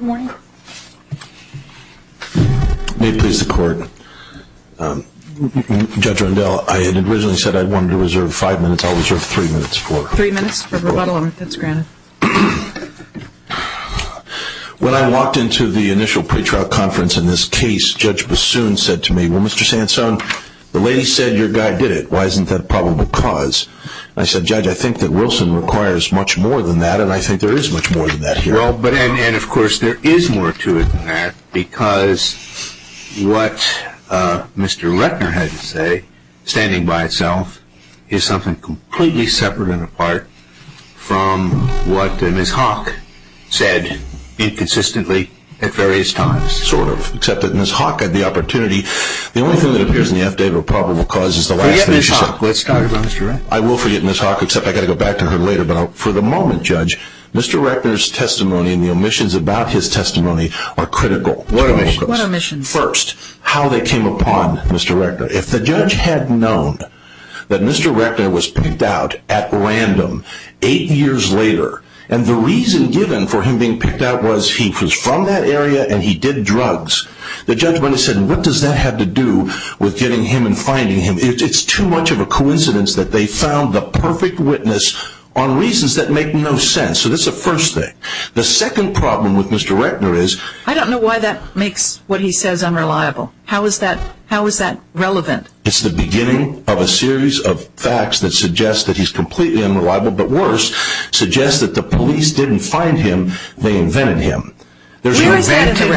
May it please the court. Judge Rondell, I had originally said I wanted to reserve five minutes. I'll reserve three minutes for it. Three minutes for rebuttal, if that's granted. When I walked into the initial pretrial conference in this case, Judge Bassoon said to me, Well, Mr. Sansone, the lady said your guy did it. Why isn't that probable cause? I said, Judge, I think that Wilson requires much more than that, and I think there is much more than that here. Well, and of course there is more to it than that, because what Mr. Rettner had to say, standing by itself, is something completely separate and apart from what Ms. Hawk said inconsistently at various times. Sort of, except that Ms. Hawk had the opportunity. The only thing that appears in the affidavit of probable cause is the last thing she said. I will forget Ms. Hawk, except I've got to go back to her later, but for the moment, Judge, Mr. Rettner's testimony and the omissions about his testimony are critical. What omissions? First, how they came upon Mr. Rettner. If the judge had known that Mr. Rettner was picked out at random eight years later, and the reason given for him being picked out was he was from that area and he did drugs, the judge might have said, what does that have to do with getting him and finding him? It's too much of a coincidence that they found the perfect witness on reasons that make no sense. So that's the first thing. The second problem with Mr. Rettner is... I don't know why that makes what he says unreliable. How is that relevant? It's the beginning of a series of facts that suggest that he's completely unreliable, but worse, suggests that the police didn't find him, they invented him. Where is that in the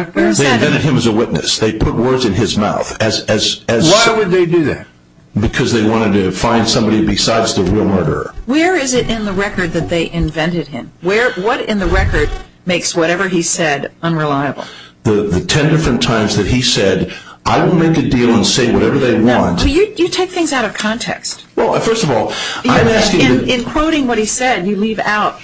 record? They invented him as a witness. They put words in his mouth. Why would they do that? Because they wanted to find somebody besides the real murderer. Where is it in the record that they invented him? What in the record makes whatever he said unreliable? The ten different times that he said, I will make a deal and say whatever they want. You take things out of context. Well, first of all, I'm asking... In quoting what he said, you leave out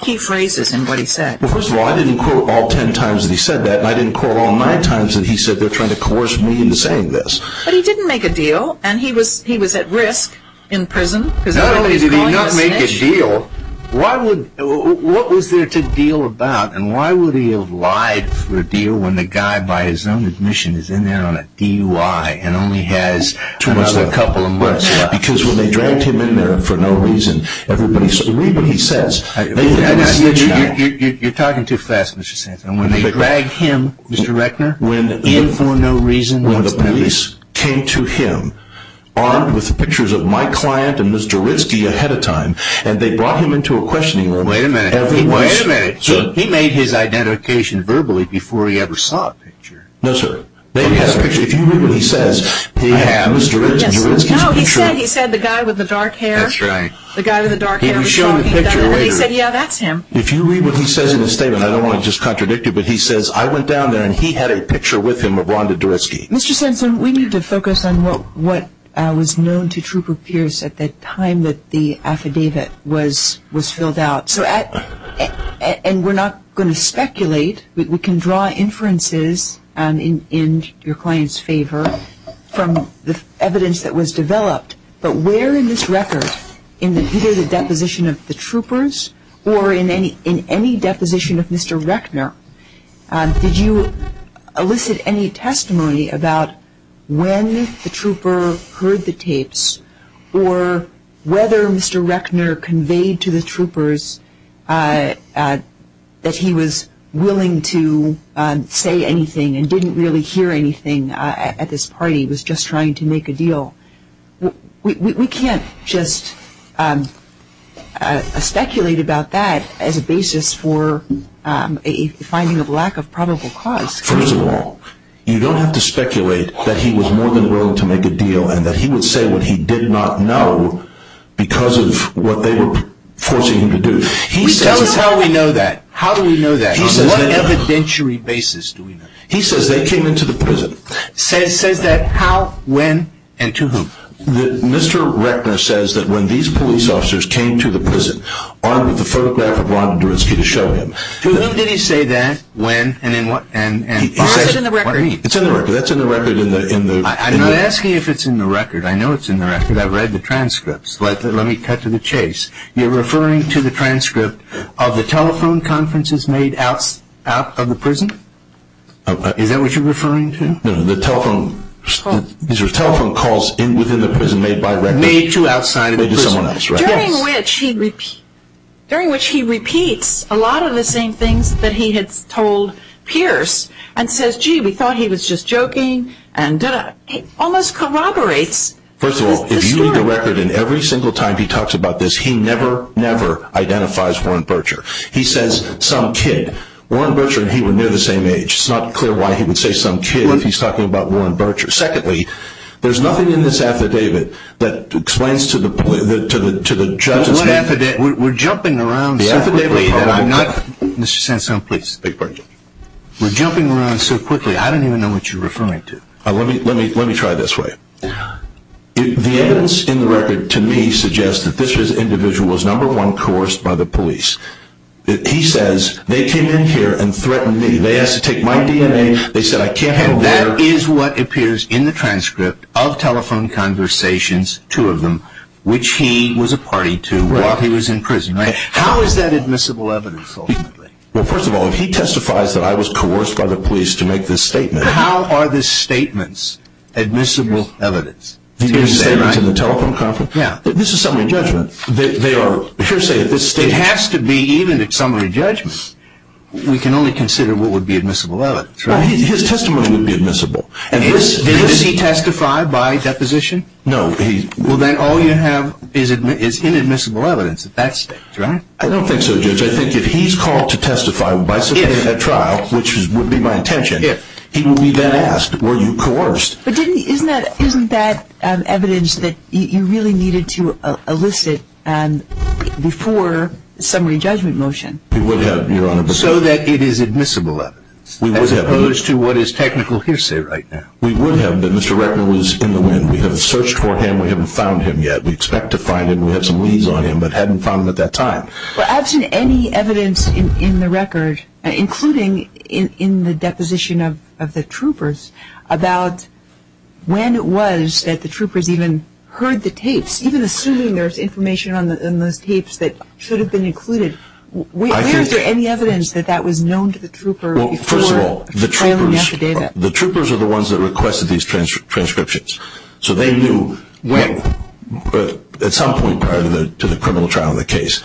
key phrases in what he said. Well, first of all, I didn't quote all ten times that he said that, and I didn't quote all nine times that he said they're trying to coerce me into saying this. But he didn't make a deal, and he was at risk in prison. Not only did he not make a deal, what was there to deal about, and why would he have lied for a deal when the guy, by his own admission, is in there on a DUI and only has another couple of months? Because when they dragged him in there for no reason, you read what he says... You're talking too fast, Mr. Sands. When they dragged him, Mr. Reckner, in for no reason... When the police came to him, armed with pictures of my client and Mr. Ritsky ahead of time, and they brought him into a questioning room... Wait a minute. Wait a minute. He made his identification verbally before he ever saw a picture. No, sir. They had a picture. If you read what he says... No, he said the guy with the dark hair. That's right. The guy with the dark hair. He showed the picture later. He said, yeah, that's him. If you read what he says in his statement, I don't want to just contradict you, but he says, I went down there and he had a picture with him of Rhonda Dorisky. Mr. Sands, we need to focus on what was known to Trooper Pierce at the time that the affidavit was filled out. And we're not going to speculate. We can draw inferences in your client's favor from the evidence that was developed. But where in this record, in either the deposition of the troopers or in any deposition of Mr. Reckner, did you elicit any testimony about when the trooper heard the tapes or whether Mr. Reckner conveyed to the troopers that he was willing to say anything and didn't really hear anything at this party, was just trying to make a deal? We can't just speculate about that as a basis for a finding of lack of probable cause. First of all, you don't have to speculate that he was more than willing to make a deal and that he would say what he did not know because of what they were forcing him to do. Tell us how we know that. How do we know that? On what evidentiary basis do we know that? He says they came into the prison. Says that how, when, and to whom? Mr. Reckner says that when these police officers came to the prison armed with a photograph of Ron Dorinsky to show him. To whom did he say that, when, and in what? It's in the record. What do you mean? It's in the record. That's in the record. I'm not asking if it's in the record. I know it's in the record. I've read the transcripts. Let me cut to the chase. You're referring to the transcript of the telephone conferences made out of the prison? Is that what you're referring to? No, the telephone calls within the prison made by Reckner. Made to outside of the prison. Made to someone else, right? During which he repeats a lot of the same things that he had told Pierce and says, gee, we thought he was just joking and da-da. He almost corroborates the story. I read the record and every single time he talks about this, he never, never identifies Warren Bircher. He says, some kid. Warren Bircher and he were near the same age. It's not clear why he would say some kid if he's talking about Warren Bircher. Secondly, there's nothing in this affidavit that explains to the judge's name. We're jumping around so quickly. Mr. Sansone, please. We're jumping around so quickly. I don't even know what you're referring to. Let me try this way. The evidence in the record to me suggests that this individual was, number one, coerced by the police. He says, they came in here and threatened me. They asked to take my DNA. They said I can't go there. And that is what appears in the transcript of telephone conversations, two of them, which he was a party to while he was in prison. How is that admissible evidence ultimately? Well, first of all, if he testifies that I was coerced by the police to make this statement. How are the statements admissible evidence? The statements in the telephone conference? Yeah. This is summary judgment. They are hearsay at this stage. It has to be even at summary judgment. We can only consider what would be admissible evidence, right? His testimony would be admissible. Did he testify by deposition? No. Well, then all you have is inadmissible evidence at that stage, right? I don't think so, Judge. I think if he's called to testify by submitting a trial, which would be my intention, he would be then asked, were you coerced? But isn't that evidence that you really needed to elicit before summary judgment motion? We would have, Your Honor. So that it is admissible evidence as opposed to what is technical hearsay right now. We would have, but Mr. Reckner was in the wind. We have searched for him. We haven't found him yet. We expect to find him. We have some leads on him, but haven't found him at that time. Well, I haven't seen any evidence in the record, including in the deposition of the troopers, about when it was that the troopers even heard the tapes, even assuming there's information in those tapes that should have been included. Where is there any evidence that that was known to the troopers before filing the affidavit? Well, first of all, the troopers are the ones that requested these transcriptions. So they knew at some point prior to the criminal trial of the case.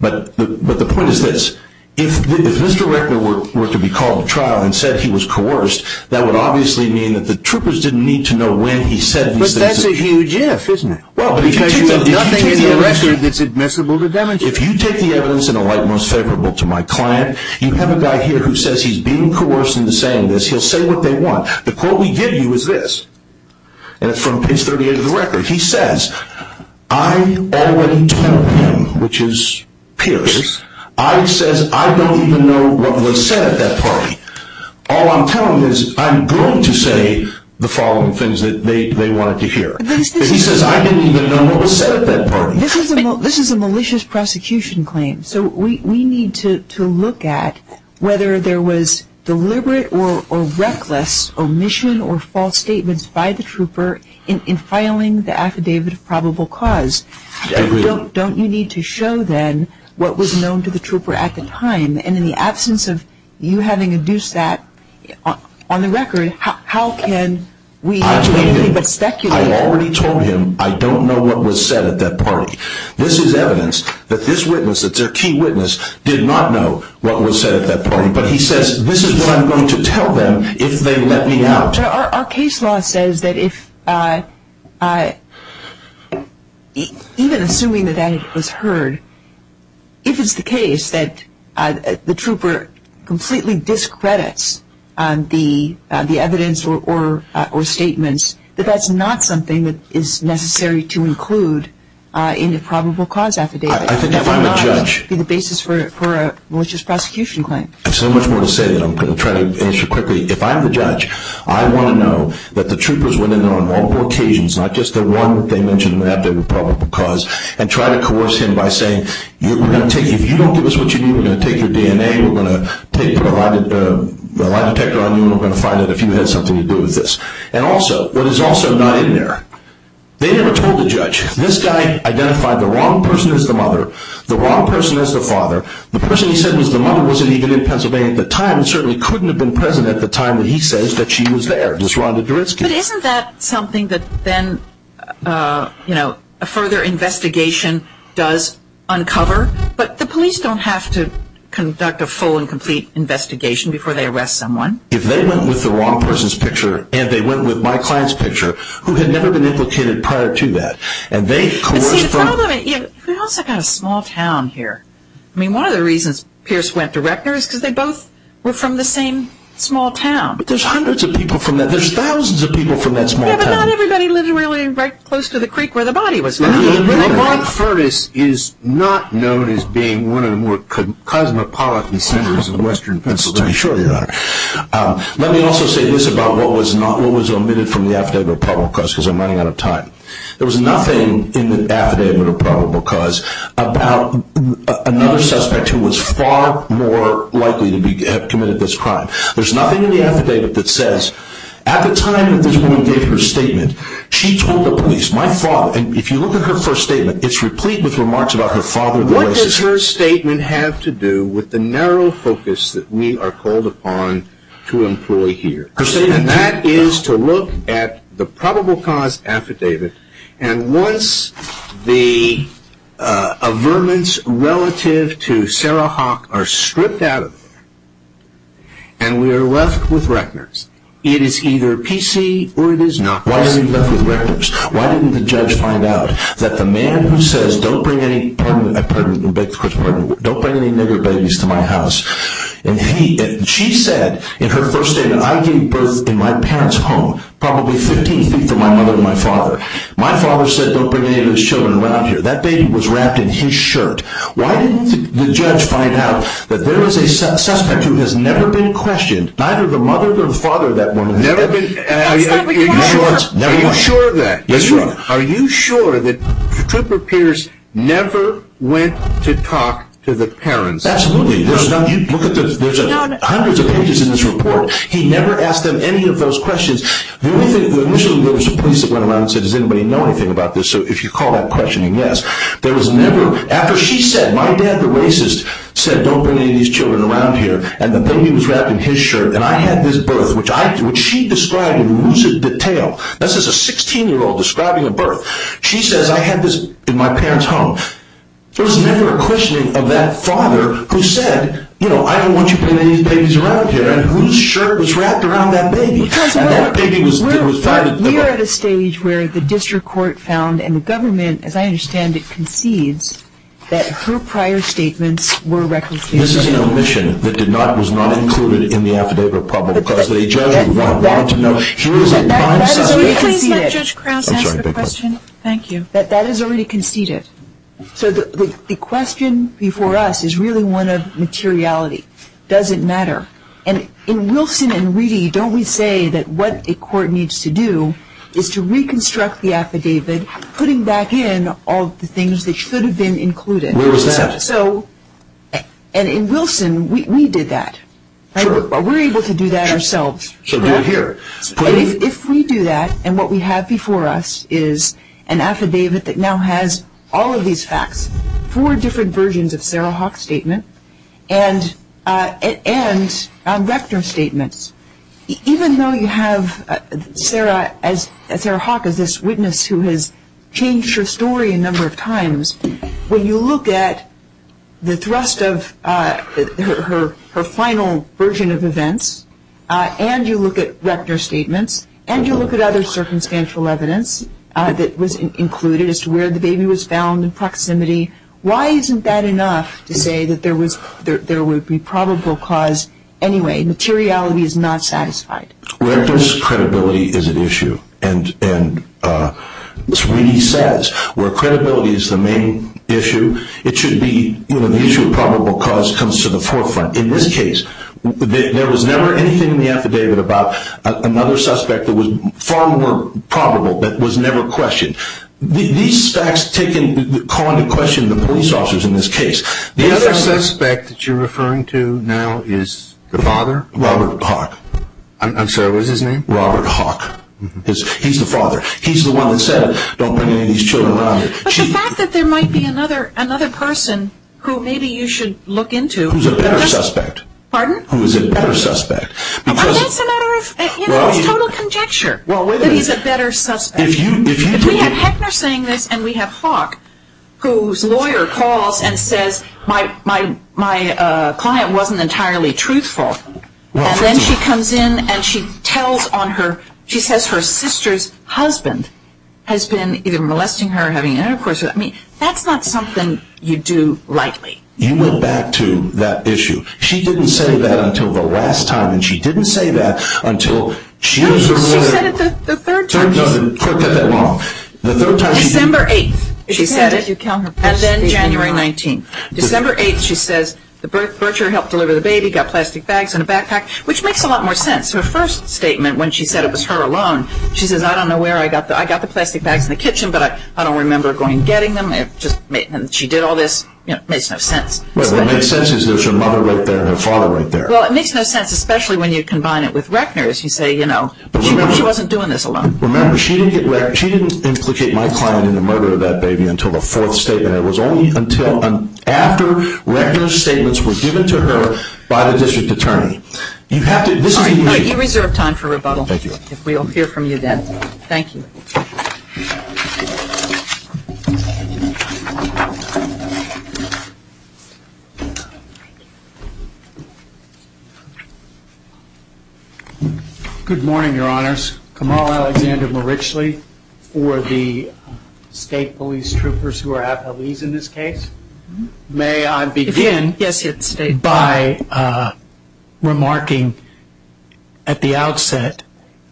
But the point is this. If Mr. Reckner were to be called to trial and said he was coerced, that would obviously mean that the troopers didn't need to know when he said these things. But that's a huge if, isn't it? Because you have nothing in the record that's admissible to demonstrate. If you take the evidence in a light most favorable to my client, you have a guy here who says he's being coerced into saying this. He'll say what they want. The quote we give you is this, and it's from page 38 of the record. He says, I already told him, which is Pierce. I says I don't even know what was said at that party. All I'm telling him is I'm going to say the following things that they wanted to hear. He says I didn't even know what was said at that party. This is a malicious prosecution claim. So we need to look at whether there was deliberate or reckless omission or false statements by the trooper in filing the affidavit of probable cause. Don't you need to show then what was known to the trooper at the time? And in the absence of you having induced that on the record, how can we do anything but speculate? I already told him I don't know what was said at that party. This is evidence that this witness, that's their key witness, did not know what was said at that party. But he says this is what I'm going to tell them if they let me out. Our case law says that even assuming that that was heard, if it's the case that the trooper completely discredits the evidence or statements, that that's not something that is necessary to include in the probable cause affidavit. That would not be the basis for a malicious prosecution claim. I have so much more to say that I'm going to try to answer quickly. If I'm the judge, I want to know that the troopers went in there on multiple occasions, not just the one that they mentioned in the affidavit of probable cause, and tried to coerce him by saying if you don't give us what you need, we're going to take your DNA, we're going to put a lie detector on you, and we're going to find out if you had something to do with this. And also, what is also not in there, they never told the judge. This guy identified the wrong person as the mother, the wrong person as the father, the person he said was the mother wasn't even in Pennsylvania at the time, and certainly couldn't have been present at the time that he says that she was there, Ms. Rhonda Duritsky. But isn't that something that then, you know, a further investigation does uncover? But the police don't have to conduct a full and complete investigation before they arrest someone. If they went with the wrong person's picture, and they went with my client's picture, who had never been implicated prior to that, and they coerced from... See, the problem is, we've also got a small town here. I mean, one of the reasons Pierce went to Reckner is because they both were from the same small town. But there's hundreds of people from that, there's thousands of people from that small town. Yeah, but not everybody lived really right close to the creek where the body was found. Robert Furtis is not known as being one of the more cosmopolitan sinners in western Pennsylvania. I'm sure he's not. Let me also say this about what was omitted from the affidavit of probable cause, because I'm running out of time. There was nothing in the affidavit of probable cause about another suspect who was far more likely to have committed this crime. There's nothing in the affidavit that says, at the time that this woman gave her statement, she told the police, my father, and if you look at her first statement, it's replete with remarks about her father. What does her statement have to do with the narrow focus that we are called upon to employ here? And that is to look at the probable cause affidavit, and once the averments relative to Sarah Hawk are stripped out of there, and we are left with Reckner's, it is either PC or it is not PC. Why are we left with Reckner's? Why didn't the judge find out that the man who says, don't bring any nigger babies to my house, and she said in her first statement, I gave birth in my parents' home, probably 15 feet from my mother and my father. My father said don't bring any of his children around here. That baby was wrapped in his shirt. Why didn't the judge find out that there was a suspect who has never been questioned, neither the mother nor the father of that woman. Are you sure of that? Yes, Your Honor. Are you sure that Trooper Pierce never went to talk to the parents? Absolutely. There's hundreds of pages in this report. He never asked them any of those questions. The only thing, initially there was a police that went around and said, does anybody know anything about this? So if you call that questioning, yes. There was never, after she said, my dad the racist, said don't bring any of these children around here, and the baby was wrapped in his shirt, and I had this birth, which she described in lucid detail. This is a 16-year-old describing a birth. She says I had this in my parents' home. There was never a questioning of that father who said, I don't want you bringing any of these babies around here, and whose shirt was wrapped around that baby. We are at a stage where the district court found, and the government, as I understand it, concedes that her prior statements were recalcitrant. This is an omission that was not included in the affidavit, because the judge would want to know. That is already conceded. Please let Judge Krauss answer the question. Thank you. That is already conceded. So the question before us is really one of materiality. Does it matter? And in Wilson and Reedy, don't we say that what a court needs to do is to reconstruct the affidavit, putting back in all the things that should have been included. Where was that? In Wilson, we did that. Sure. We were able to do that ourselves. So do it here. If we do that, and what we have before us is an affidavit that now has all of these facts, four different versions of Sarah Hawk's statement, and Rector's statements, even though you have Sarah Hawk as this witness who has changed her story a number of times, when you look at the thrust of her final version of events, and you look at Rector's statements, and you look at other circumstantial evidence that was included as to where the baby was found in proximity, why isn't that enough to say that there would be probable cause anyway? Materiality is not satisfied. Rector's credibility is an issue. And Sweeney says where credibility is the main issue, it should be the issue of probable cause comes to the forefront. In this case, there was never anything in the affidavit about another suspect that was far more probable that was never questioned. These facts take into account the question of the police officers in this case. The other suspect that you're referring to now is the father? Robert Hawk. I'm sorry, what was his name? Robert Hawk. He's the father. He's the one that said don't bring any of these children around here. But the fact that there might be another person who maybe you should look into. Who's a better suspect. Pardon? Who's a better suspect. That's a matter of total conjecture that he's a better suspect. If we have Heckner saying this and we have Hawk, whose lawyer calls and says my client wasn't entirely truthful, and then she comes in and she tells on her, she says her sister's husband has been either molesting her or having an intercourse with her. That's not something you do lightly. You went back to that issue. She didn't say that until the last time. And she didn't say that until she was aware. She said it the third time. No, no, no. Don't get that wrong. December 8th she said it. And then January 19th. December 8th she says the bircher helped deliver the baby, got plastic bags in a backpack, which makes a lot more sense. Her first statement when she said it was her alone, she says I don't know where I got the plastic bags in the kitchen, but I don't remember going and getting them. She did all this. It makes no sense. What makes sense is there's her mother right there and her father right there. Well, it makes no sense, especially when you combine it with Reckner's. You say, you know, she wasn't doing this alone. Remember, she didn't implicate my client in the murder of that baby until the fourth statement. It was only until and after Reckner's statements were given to her by the district attorney. You have to – this is immediate. All right. You reserve time for rebuttal. Thank you. If we'll hear from you then. Thank you. Good morning, Your Honors. Kamala Alexander Marichli for the state police troopers who are athletes in this case. May I begin by remarking at the outset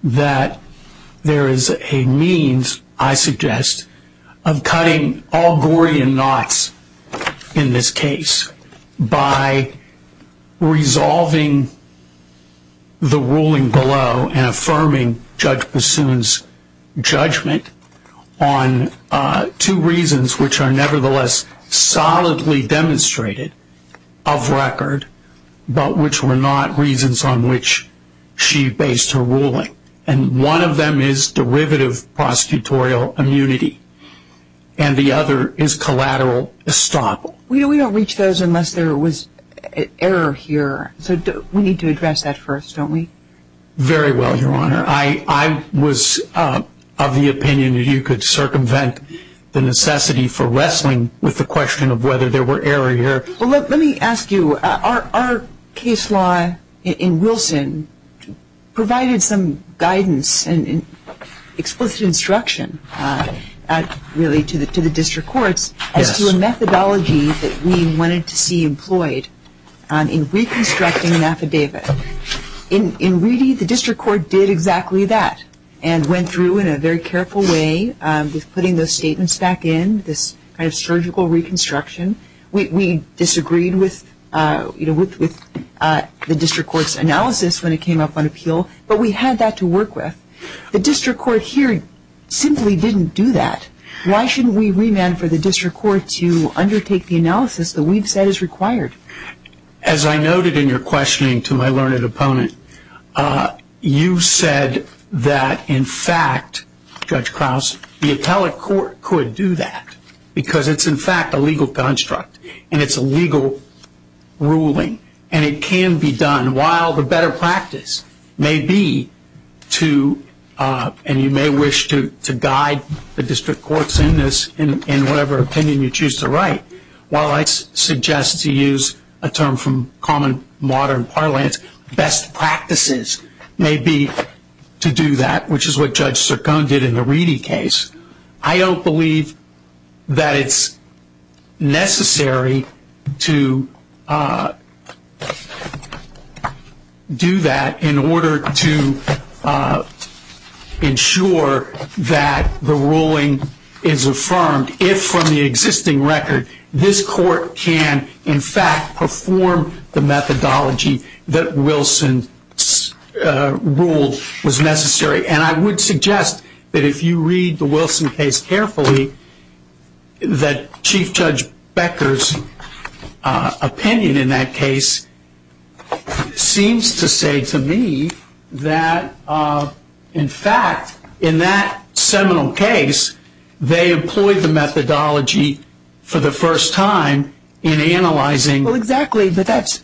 that there is a means, I suggest, of cutting all Gorian knots in this case by resolving the ruling below and affirming Judge Bassoon's judgment on two reasons, which are nevertheless solidly demonstrated of record, but which were not reasons on which she based her ruling. And one of them is derivative prosecutorial immunity. And the other is collateral estoppel. We don't reach those unless there was error here. So we need to address that first, don't we? Very well, Your Honor. I was of the opinion that you could circumvent the necessity for wrestling with the question of whether there were error here. Well, let me ask you, our case law in Wilson provided some guidance and explicit instruction really to the district courts as to a methodology that we wanted to see employed in reconstructing an affidavit. In Reedy, the district court did exactly that and went through in a very careful way with putting those statements back in, this kind of surgical reconstruction. We disagreed with the district court's analysis when it came up on appeal, but we had that to work with. The district court here simply didn't do that. Why shouldn't we remand for the district court to undertake the analysis that we've said is required? As I noted in your questioning to my learned opponent, you said that, in fact, Judge Krause, the appellate court could do that because it's, in fact, a legal construct and it's a legal ruling and it can be done while the better practice may be to, and you may wish to guide the district courts in this in whatever opinion you choose to write, while I suggest to use a term from common modern parlance, best practices may be to do that, which is what Judge Cercone did in the Reedy case. I don't believe that it's necessary to do that in order to ensure that the ruling is affirmed, if from the existing record this court can, in fact, perform the methodology that Wilson's rule was necessary. And I would suggest that if you read the Wilson case carefully, that Chief Judge Becker's opinion in that case seems to say to me that, in fact, in that seminal case, they employed the methodology for the first time in analyzing. Well, exactly, but that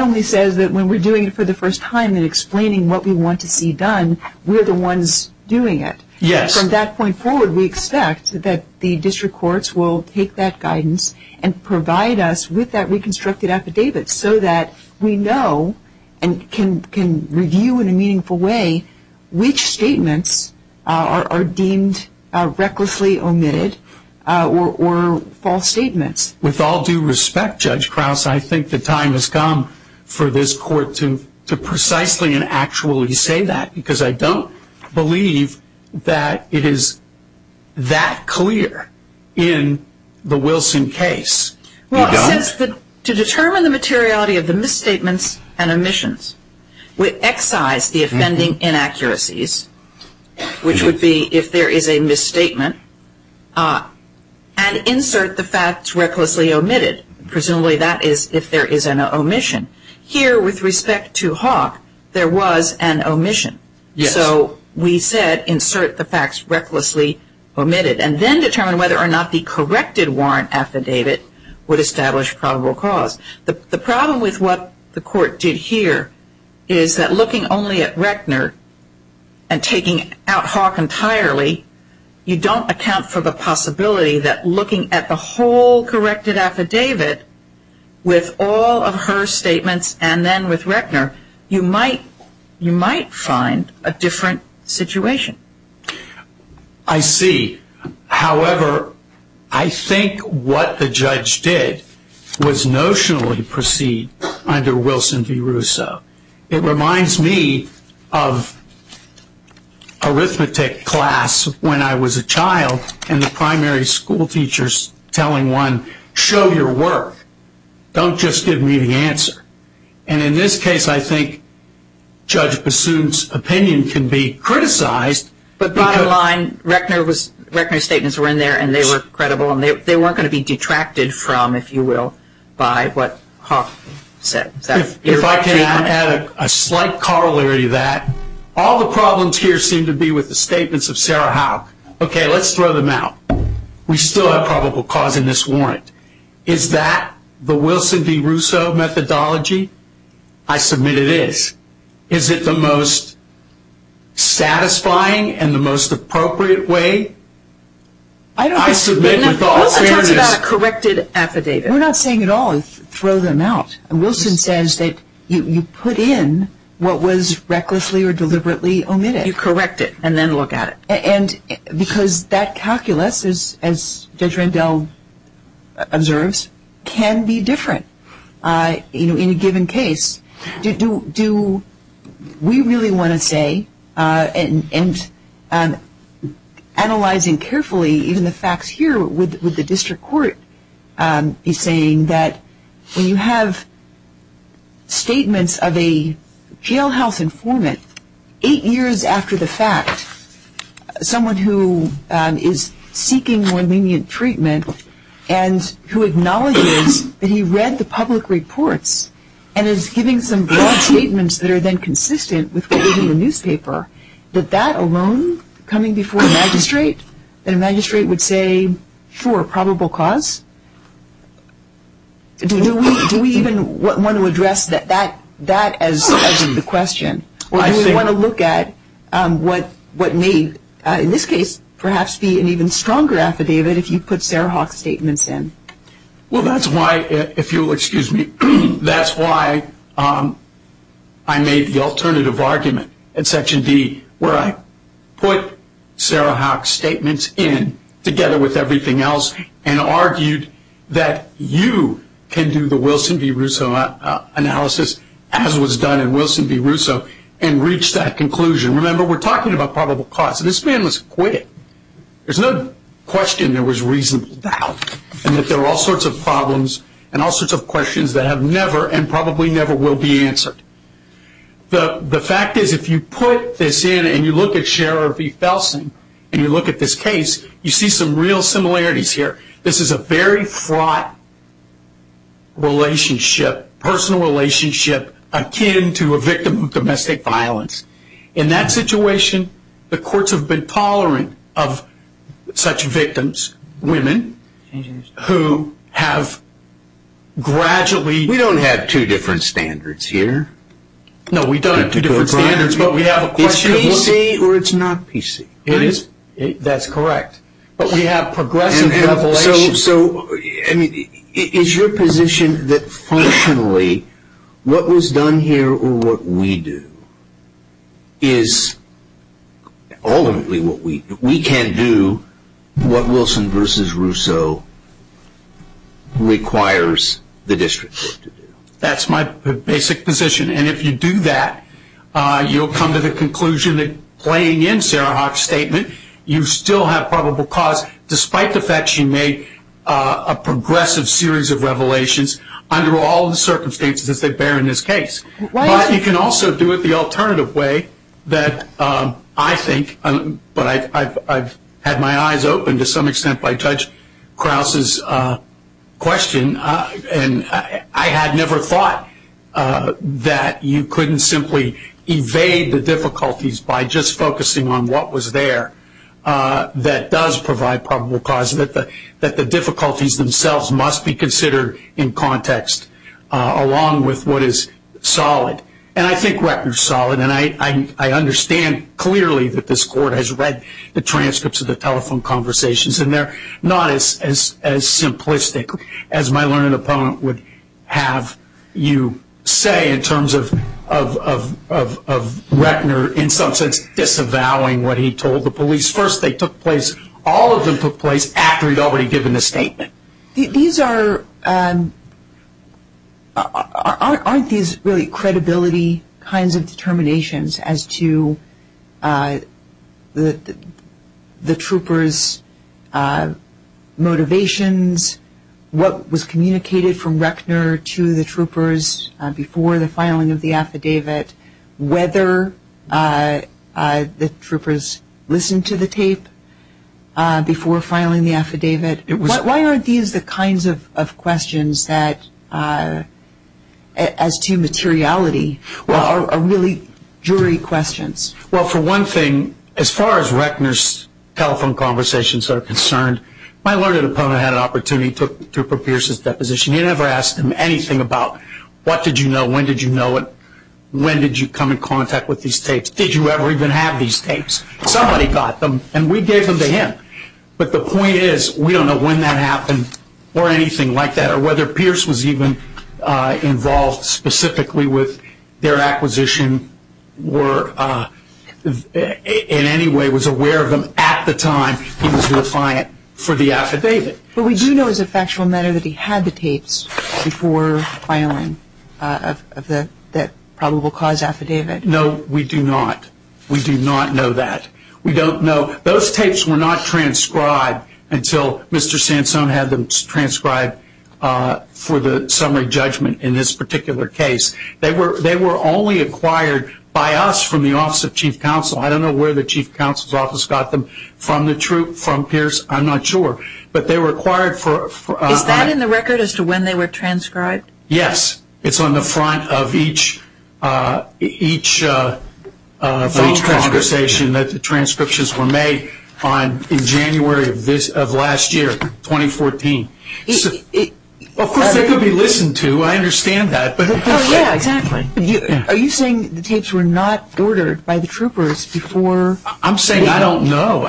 only says that when we're doing it for the first time and explaining what we want to see done, we're the ones doing it. Yes. From that point forward, we expect that the district courts will take that guidance and provide us with that reconstructed affidavit so that we know and can review in a meaningful way which statements are deemed recklessly omitted or false statements. With all due respect, Judge Krause, I think the time has come for this court to precisely and actually say that because I don't believe that it is that clear in the Wilson case. Well, to determine the materiality of the misstatements and omissions we excise the offending inaccuracies, which would be if there is a misstatement, and insert the facts recklessly omitted. Presumably that is if there is an omission. Here, with respect to Hawk, there was an omission. So we said insert the facts recklessly omitted and then determine whether or not the corrected warrant affidavit would establish probable cause. The problem with what the court did here is that looking only at Rechner and taking out Hawk entirely, you don't account for the possibility that looking at the whole corrected affidavit with all of her statements and then with Rechner, you might find a different situation. I see. However, I think what the judge did was notionally proceed under Wilson v. Russo. It reminds me of arithmetic class when I was a child and the primary school teachers telling one, show your work. Don't just give me the answer. And in this case, I think Judge Bassoon's opinion can be criticized. But bottom line, Rechner's statements were in there and they were credible and they weren't going to be detracted from, if you will, by what Hawk said. If I can add a slight corollary to that, all the problems here seem to be with the statements of Sarah Hawk. Okay, let's throw them out. We still have probable cause in this warrant. Is that the Wilson v. Russo methodology? I submit it is. Is it the most satisfying and the most appropriate way? I submit with all fairness. Wilson talks about a corrected affidavit. We're not saying at all throw them out. Wilson says that you put in what was recklessly or deliberately omitted. You correct it and then look at it. And because that calculus, as Judge Randall observes, can be different in a given case. Do we really want to say, and analyzing carefully even the facts here, would the district court be saying that when you have statements of a jailhouse informant, eight years after the fact, someone who is seeking more lenient treatment and who acknowledges that he read the public reports and is giving some broad statements that are then consistent with what is in the newspaper, that that alone, coming before a magistrate, that a magistrate would say, sure, probable cause? Do we even want to address that as the question? Or do we want to look at what may, in this case, perhaps be an even stronger affidavit if you put Sarah Hawk's statements in? Well, that's why, if you'll excuse me, that's why I made the alternative argument in Section D where I put Sarah Hawk's statements in together with everything else and argued that you can do the Wilson v. Russo analysis as was done in Wilson v. Russo and reach that conclusion. Remember, we're talking about probable cause. This man was quick. There's no question there was reasonable doubt and that there were all sorts of problems and all sorts of questions that have never and probably never will be answered. The fact is, if you put this in and you look at Shara V. Felsen and you look at this case, you see some real similarities here. This is a very fraught relationship, personal relationship, akin to a victim of domestic violence. In that situation, the courts have been tolerant of such victims, women, who have gradually... We don't have two different standards here. No, we don't have two different standards, but we have a question... It's PC or it's not PC. That's correct, but we have progressive revelation... Is your position that functionally, what was done here or what we do is ultimately what we do. We can't do what Wilson v. Russo requires the district court to do. That's my basic position, and if you do that, you'll come to the conclusion that playing in Sarah Hawk's statement, you still have probable cause despite the fact she made a progressive series of revelations under all the circumstances as they bear in this case. But you can also do it the alternative way that I think, but I've had my eyes opened to some extent by Judge Krause's question, and I had never thought that you couldn't simply evade the difficulties by just focusing on what was there that does provide probable cause, that the difficulties themselves must be considered in context along with what is solid. And I think Rettner's solid, and I understand clearly that this court has read the transcripts of the telephone conversations, and they're not as simplistic as my learned opponent would have you say in terms of Rettner in some sense disavowing what he told the police. First, they took place, all of them took place after he'd already given the statement. Aren't these really credibility kinds of determinations as to the troopers' motivations, what was communicated from Rettner to the troopers before the filing of the affidavit, whether the troopers listened to the tape before filing the affidavit? Why aren't these the kinds of questions that as to materiality are really jury questions? Well, for one thing, as far as Rettner's telephone conversations are concerned, my learned opponent had an opportunity to prove Pierce's deposition. He never asked him anything about what did you know, when did you know it, when did you come in contact with these tapes, did you ever even have these tapes? Somebody got them, and we gave them to him. But the point is we don't know when that happened or anything like that, or whether Pierce was even involved specifically with their acquisition or in any way was aware of them at the time he was the defiant for the affidavit. But we do know as a factual matter that he had the tapes before filing that probable cause affidavit. No, we do not. We do not know that. We don't know. Those tapes were not transcribed until Mr. Sansone had them transcribed for the summary judgment in this particular case. They were only acquired by us from the Office of Chief Counsel. I don't know where the Chief Counsel's Office got them, from the troop, from Pierce, I'm not sure. But they were acquired for... Is that in the record as to when they were transcribed? Yes. It's on the front of each conversation that the transcriptions were made in January of last year, 2014. Of course they could be listened to, I understand that. Oh, yeah, exactly. Are you saying the tapes were not ordered by the troopers before... I'm saying I don't know.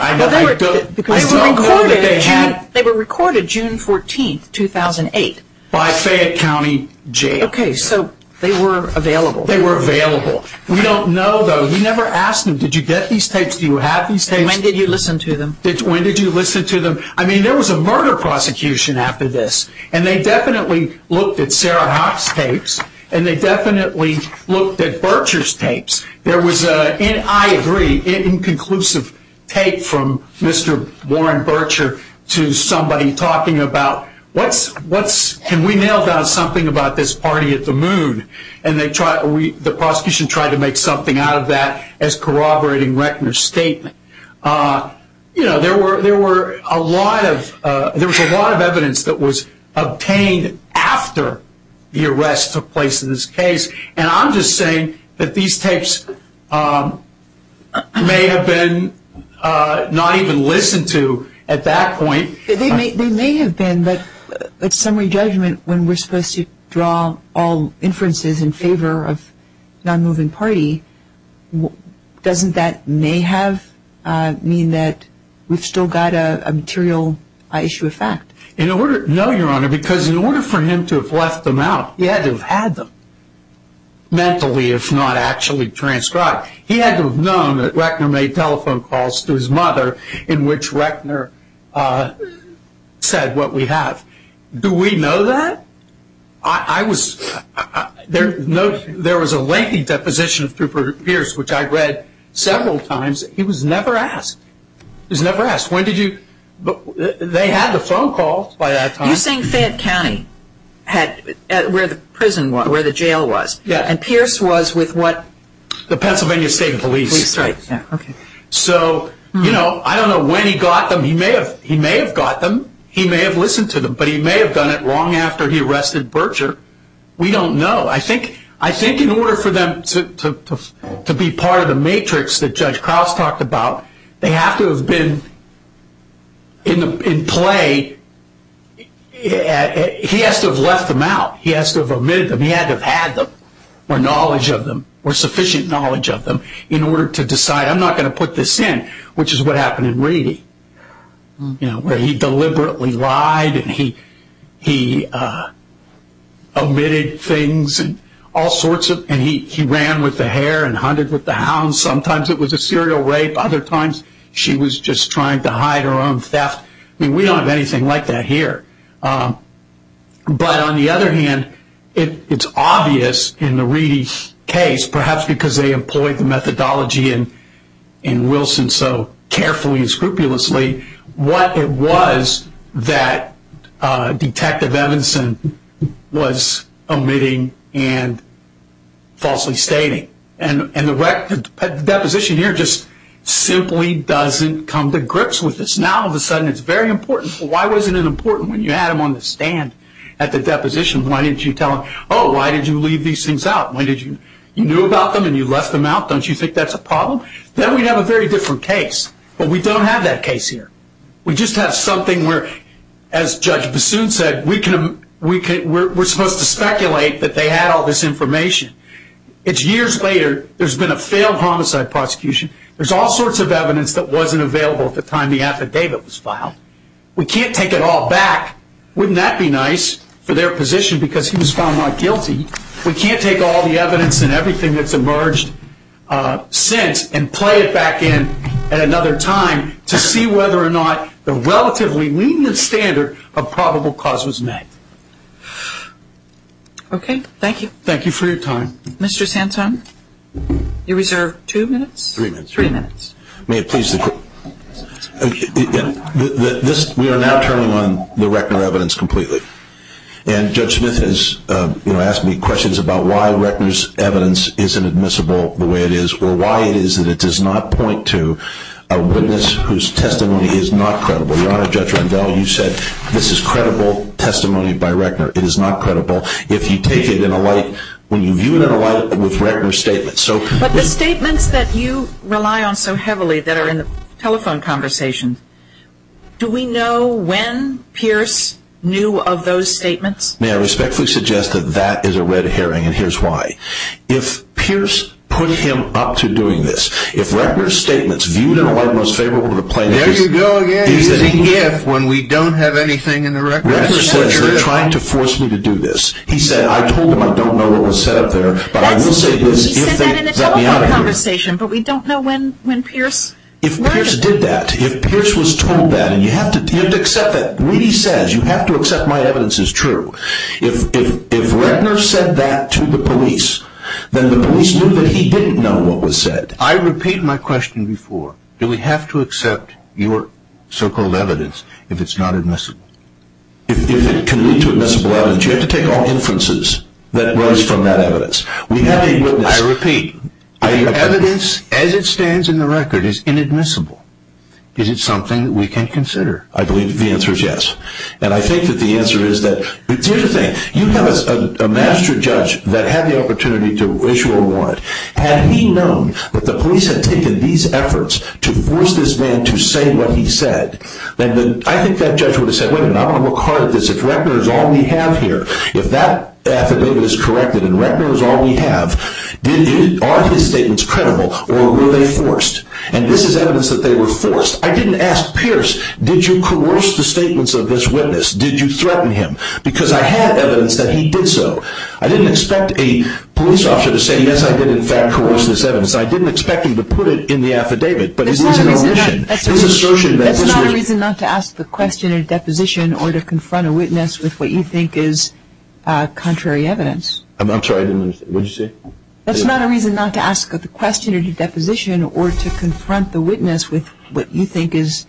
They were recorded June 14, 2008. By Fayette County Jail. Okay, so they were available. They were available. We don't know, though. We never asked them, did you get these tapes, do you have these tapes? And when did you listen to them? When did you listen to them? I mean, there was a murder prosecution after this, and they definitely looked at Sarah Hoch's tapes, and they definitely looked at Bircher's tapes. There was an, I agree, inconclusive tape from Mr. Warren Bircher to somebody talking about, can we nail down something about this party at the moon? And the prosecution tried to make something out of that as corroborating Reckner's statement. You know, there was a lot of evidence that was obtained after the arrest took place in this case, and I'm just saying that these tapes may have been not even listened to at that point. They may have been, but at summary judgment, when we're supposed to draw all inferences in favor of non-moving party, doesn't that may have mean that we've still got a material issue of fact? No, Your Honor, because in order for him to have left them out, he had to have had them mentally, if not actually transcribed. He had to have known that Reckner made telephone calls to his mother in which Reckner said what we have. Do we know that? I was, there was a lengthy deposition through Pierce, which I read several times. He was never asked. He was never asked. When did you, they had the phone calls by that time. You're saying Fayette County had, where the prison was, where the jail was. Yeah. And Pierce was with what? The Pennsylvania State Police. Police, right, yeah, okay. So, you know, I don't know when he got them. He may have got them. He may have listened to them, but he may have done it long after he arrested Berger. We don't know. I think in order for them to be part of the matrix that Judge Krause talked about, they have to have been in play. He has to have left them out. He has to have omitted them. He had to have had them or knowledge of them or sufficient knowledge of them in order to decide, I'm not going to put this in, which is what happened in Reedy, you know, where he deliberately lied and he omitted things and all sorts of, and he ran with the hare and hunted with the hound. Sometimes it was a serial rape. Other times she was just trying to hide her own theft. I mean, we don't have anything like that here. But on the other hand, it's obvious in the Reedy case, perhaps because they employed the methodology in Wilson so carefully and scrupulously, what it was that Detective Evanson was omitting and falsely stating. And the deposition here just simply doesn't come to grips with this. Now all of a sudden it's very important. Why wasn't it important when you had him on the stand at the deposition? Why didn't you tell him, oh, why did you leave these things out? You knew about them and you left them out. Don't you think that's a problem? Then we'd have a very different case. But we don't have that case here. We just have something where, as Judge Bassoon said, we're supposed to speculate that they had all this information. It's years later. There's been a failed homicide prosecution. There's all sorts of evidence that wasn't available at the time the affidavit was filed. We can't take it all back. Wouldn't that be nice for their position because he was found not guilty? We can't take all the evidence and everything that's emerged since and play it back in at another time to see whether or not the relatively lenient standard of probable cause was met. Okay. Thank you. Thank you for your time. Mr. Santone, you're reserved two minutes? Three minutes. Three minutes. May it please the Court. We are now turning on the record evidence completely. And Judge Smith has asked me questions about why Reckner's evidence isn't admissible the way it is or why it is that it does not point to a witness whose testimony is not credible. Your Honor, Judge Rendell, you said this is credible testimony by Reckner. It is not credible if you take it in a light, when you view it in a light with Reckner's statements. But the statements that you rely on so heavily that are in the telephone conversation, do we know when Pierce knew of those statements? May I respectfully suggest that that is a red herring, and here's why. If Pierce put him up to doing this, if Reckner's statements viewed in a light most favorable to the plaintiff, There you go again using if when we don't have anything in the record. Reckner says you're trying to force me to do this. He said I told him I don't know what was set up there, but I will say this if they let me out of here. He said that in a telephone conversation, but we don't know when Pierce learned of it. If Reckner did that, if Pierce was told that, and you have to accept that. Reedy says you have to accept my evidence is true. If Reckner said that to the police, then the police knew that he didn't know what was said. I repeat my question before. Do we have to accept your so-called evidence if it's not admissible? If it can lead to admissible evidence, you have to take all inferences that rise from that evidence. I repeat, the evidence as it stands in the record is inadmissible. Is it something that we can consider? I believe the answer is yes. And I think that the answer is that, here's the thing. You have a master judge that had the opportunity to issue a warrant. Had he known that the police had taken these efforts to force this man to say what he said, I think that judge would have said, wait a minute, I'm going to look hard at this. If Reckner is all we have here, if that affidavit is corrected and Reckner is all we have, are his statements credible or were they forced? And this is evidence that they were forced? I didn't ask Pierce, did you coerce the statements of this witness? Did you threaten him? Because I had evidence that he did so. I didn't expect a police officer to say, yes, I did, in fact, coerce this evidence. I didn't expect him to put it in the affidavit. That's not a reason not to ask the question in a deposition or to confront a witness with what you think is contrary evidence. I'm sorry, what did you say? That's not a reason not to ask the question in a deposition or to confront the witness with what you think is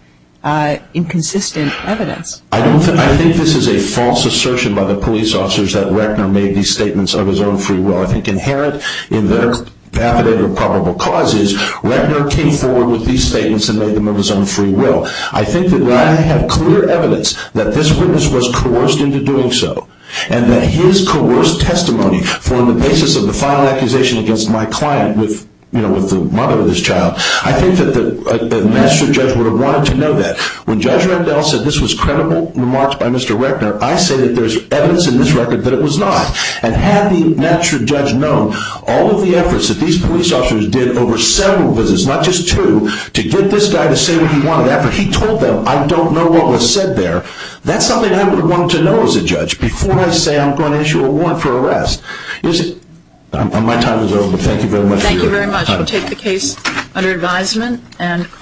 inconsistent evidence. I think this is a false assertion by the police officers that Reckner made these statements of his own free will. I think inherent in their affidavit of probable causes, Reckner came forward with these statements and made them of his own free will. I think that when I have clear evidence that this witness was coerced into doing so and that his coerced testimony formed the basis of the final accusation against my client with the mother of this child, I think that the magistrate judge would have wanted to know that. When Judge Rendell said this was credible remarks by Mr. Reckner, I say that there's evidence in this record that it was not. And had the magistrate judge known all of the efforts that these police officers did over several visits, not just two, to get this guy to say what he wanted after he told them, I don't know what was said there, that's something I would have wanted to know as a judge before I say I'm going to issue a warrant for arrest. My time is over, but thank you very much. Thank you very much. We'll take the case under advisement.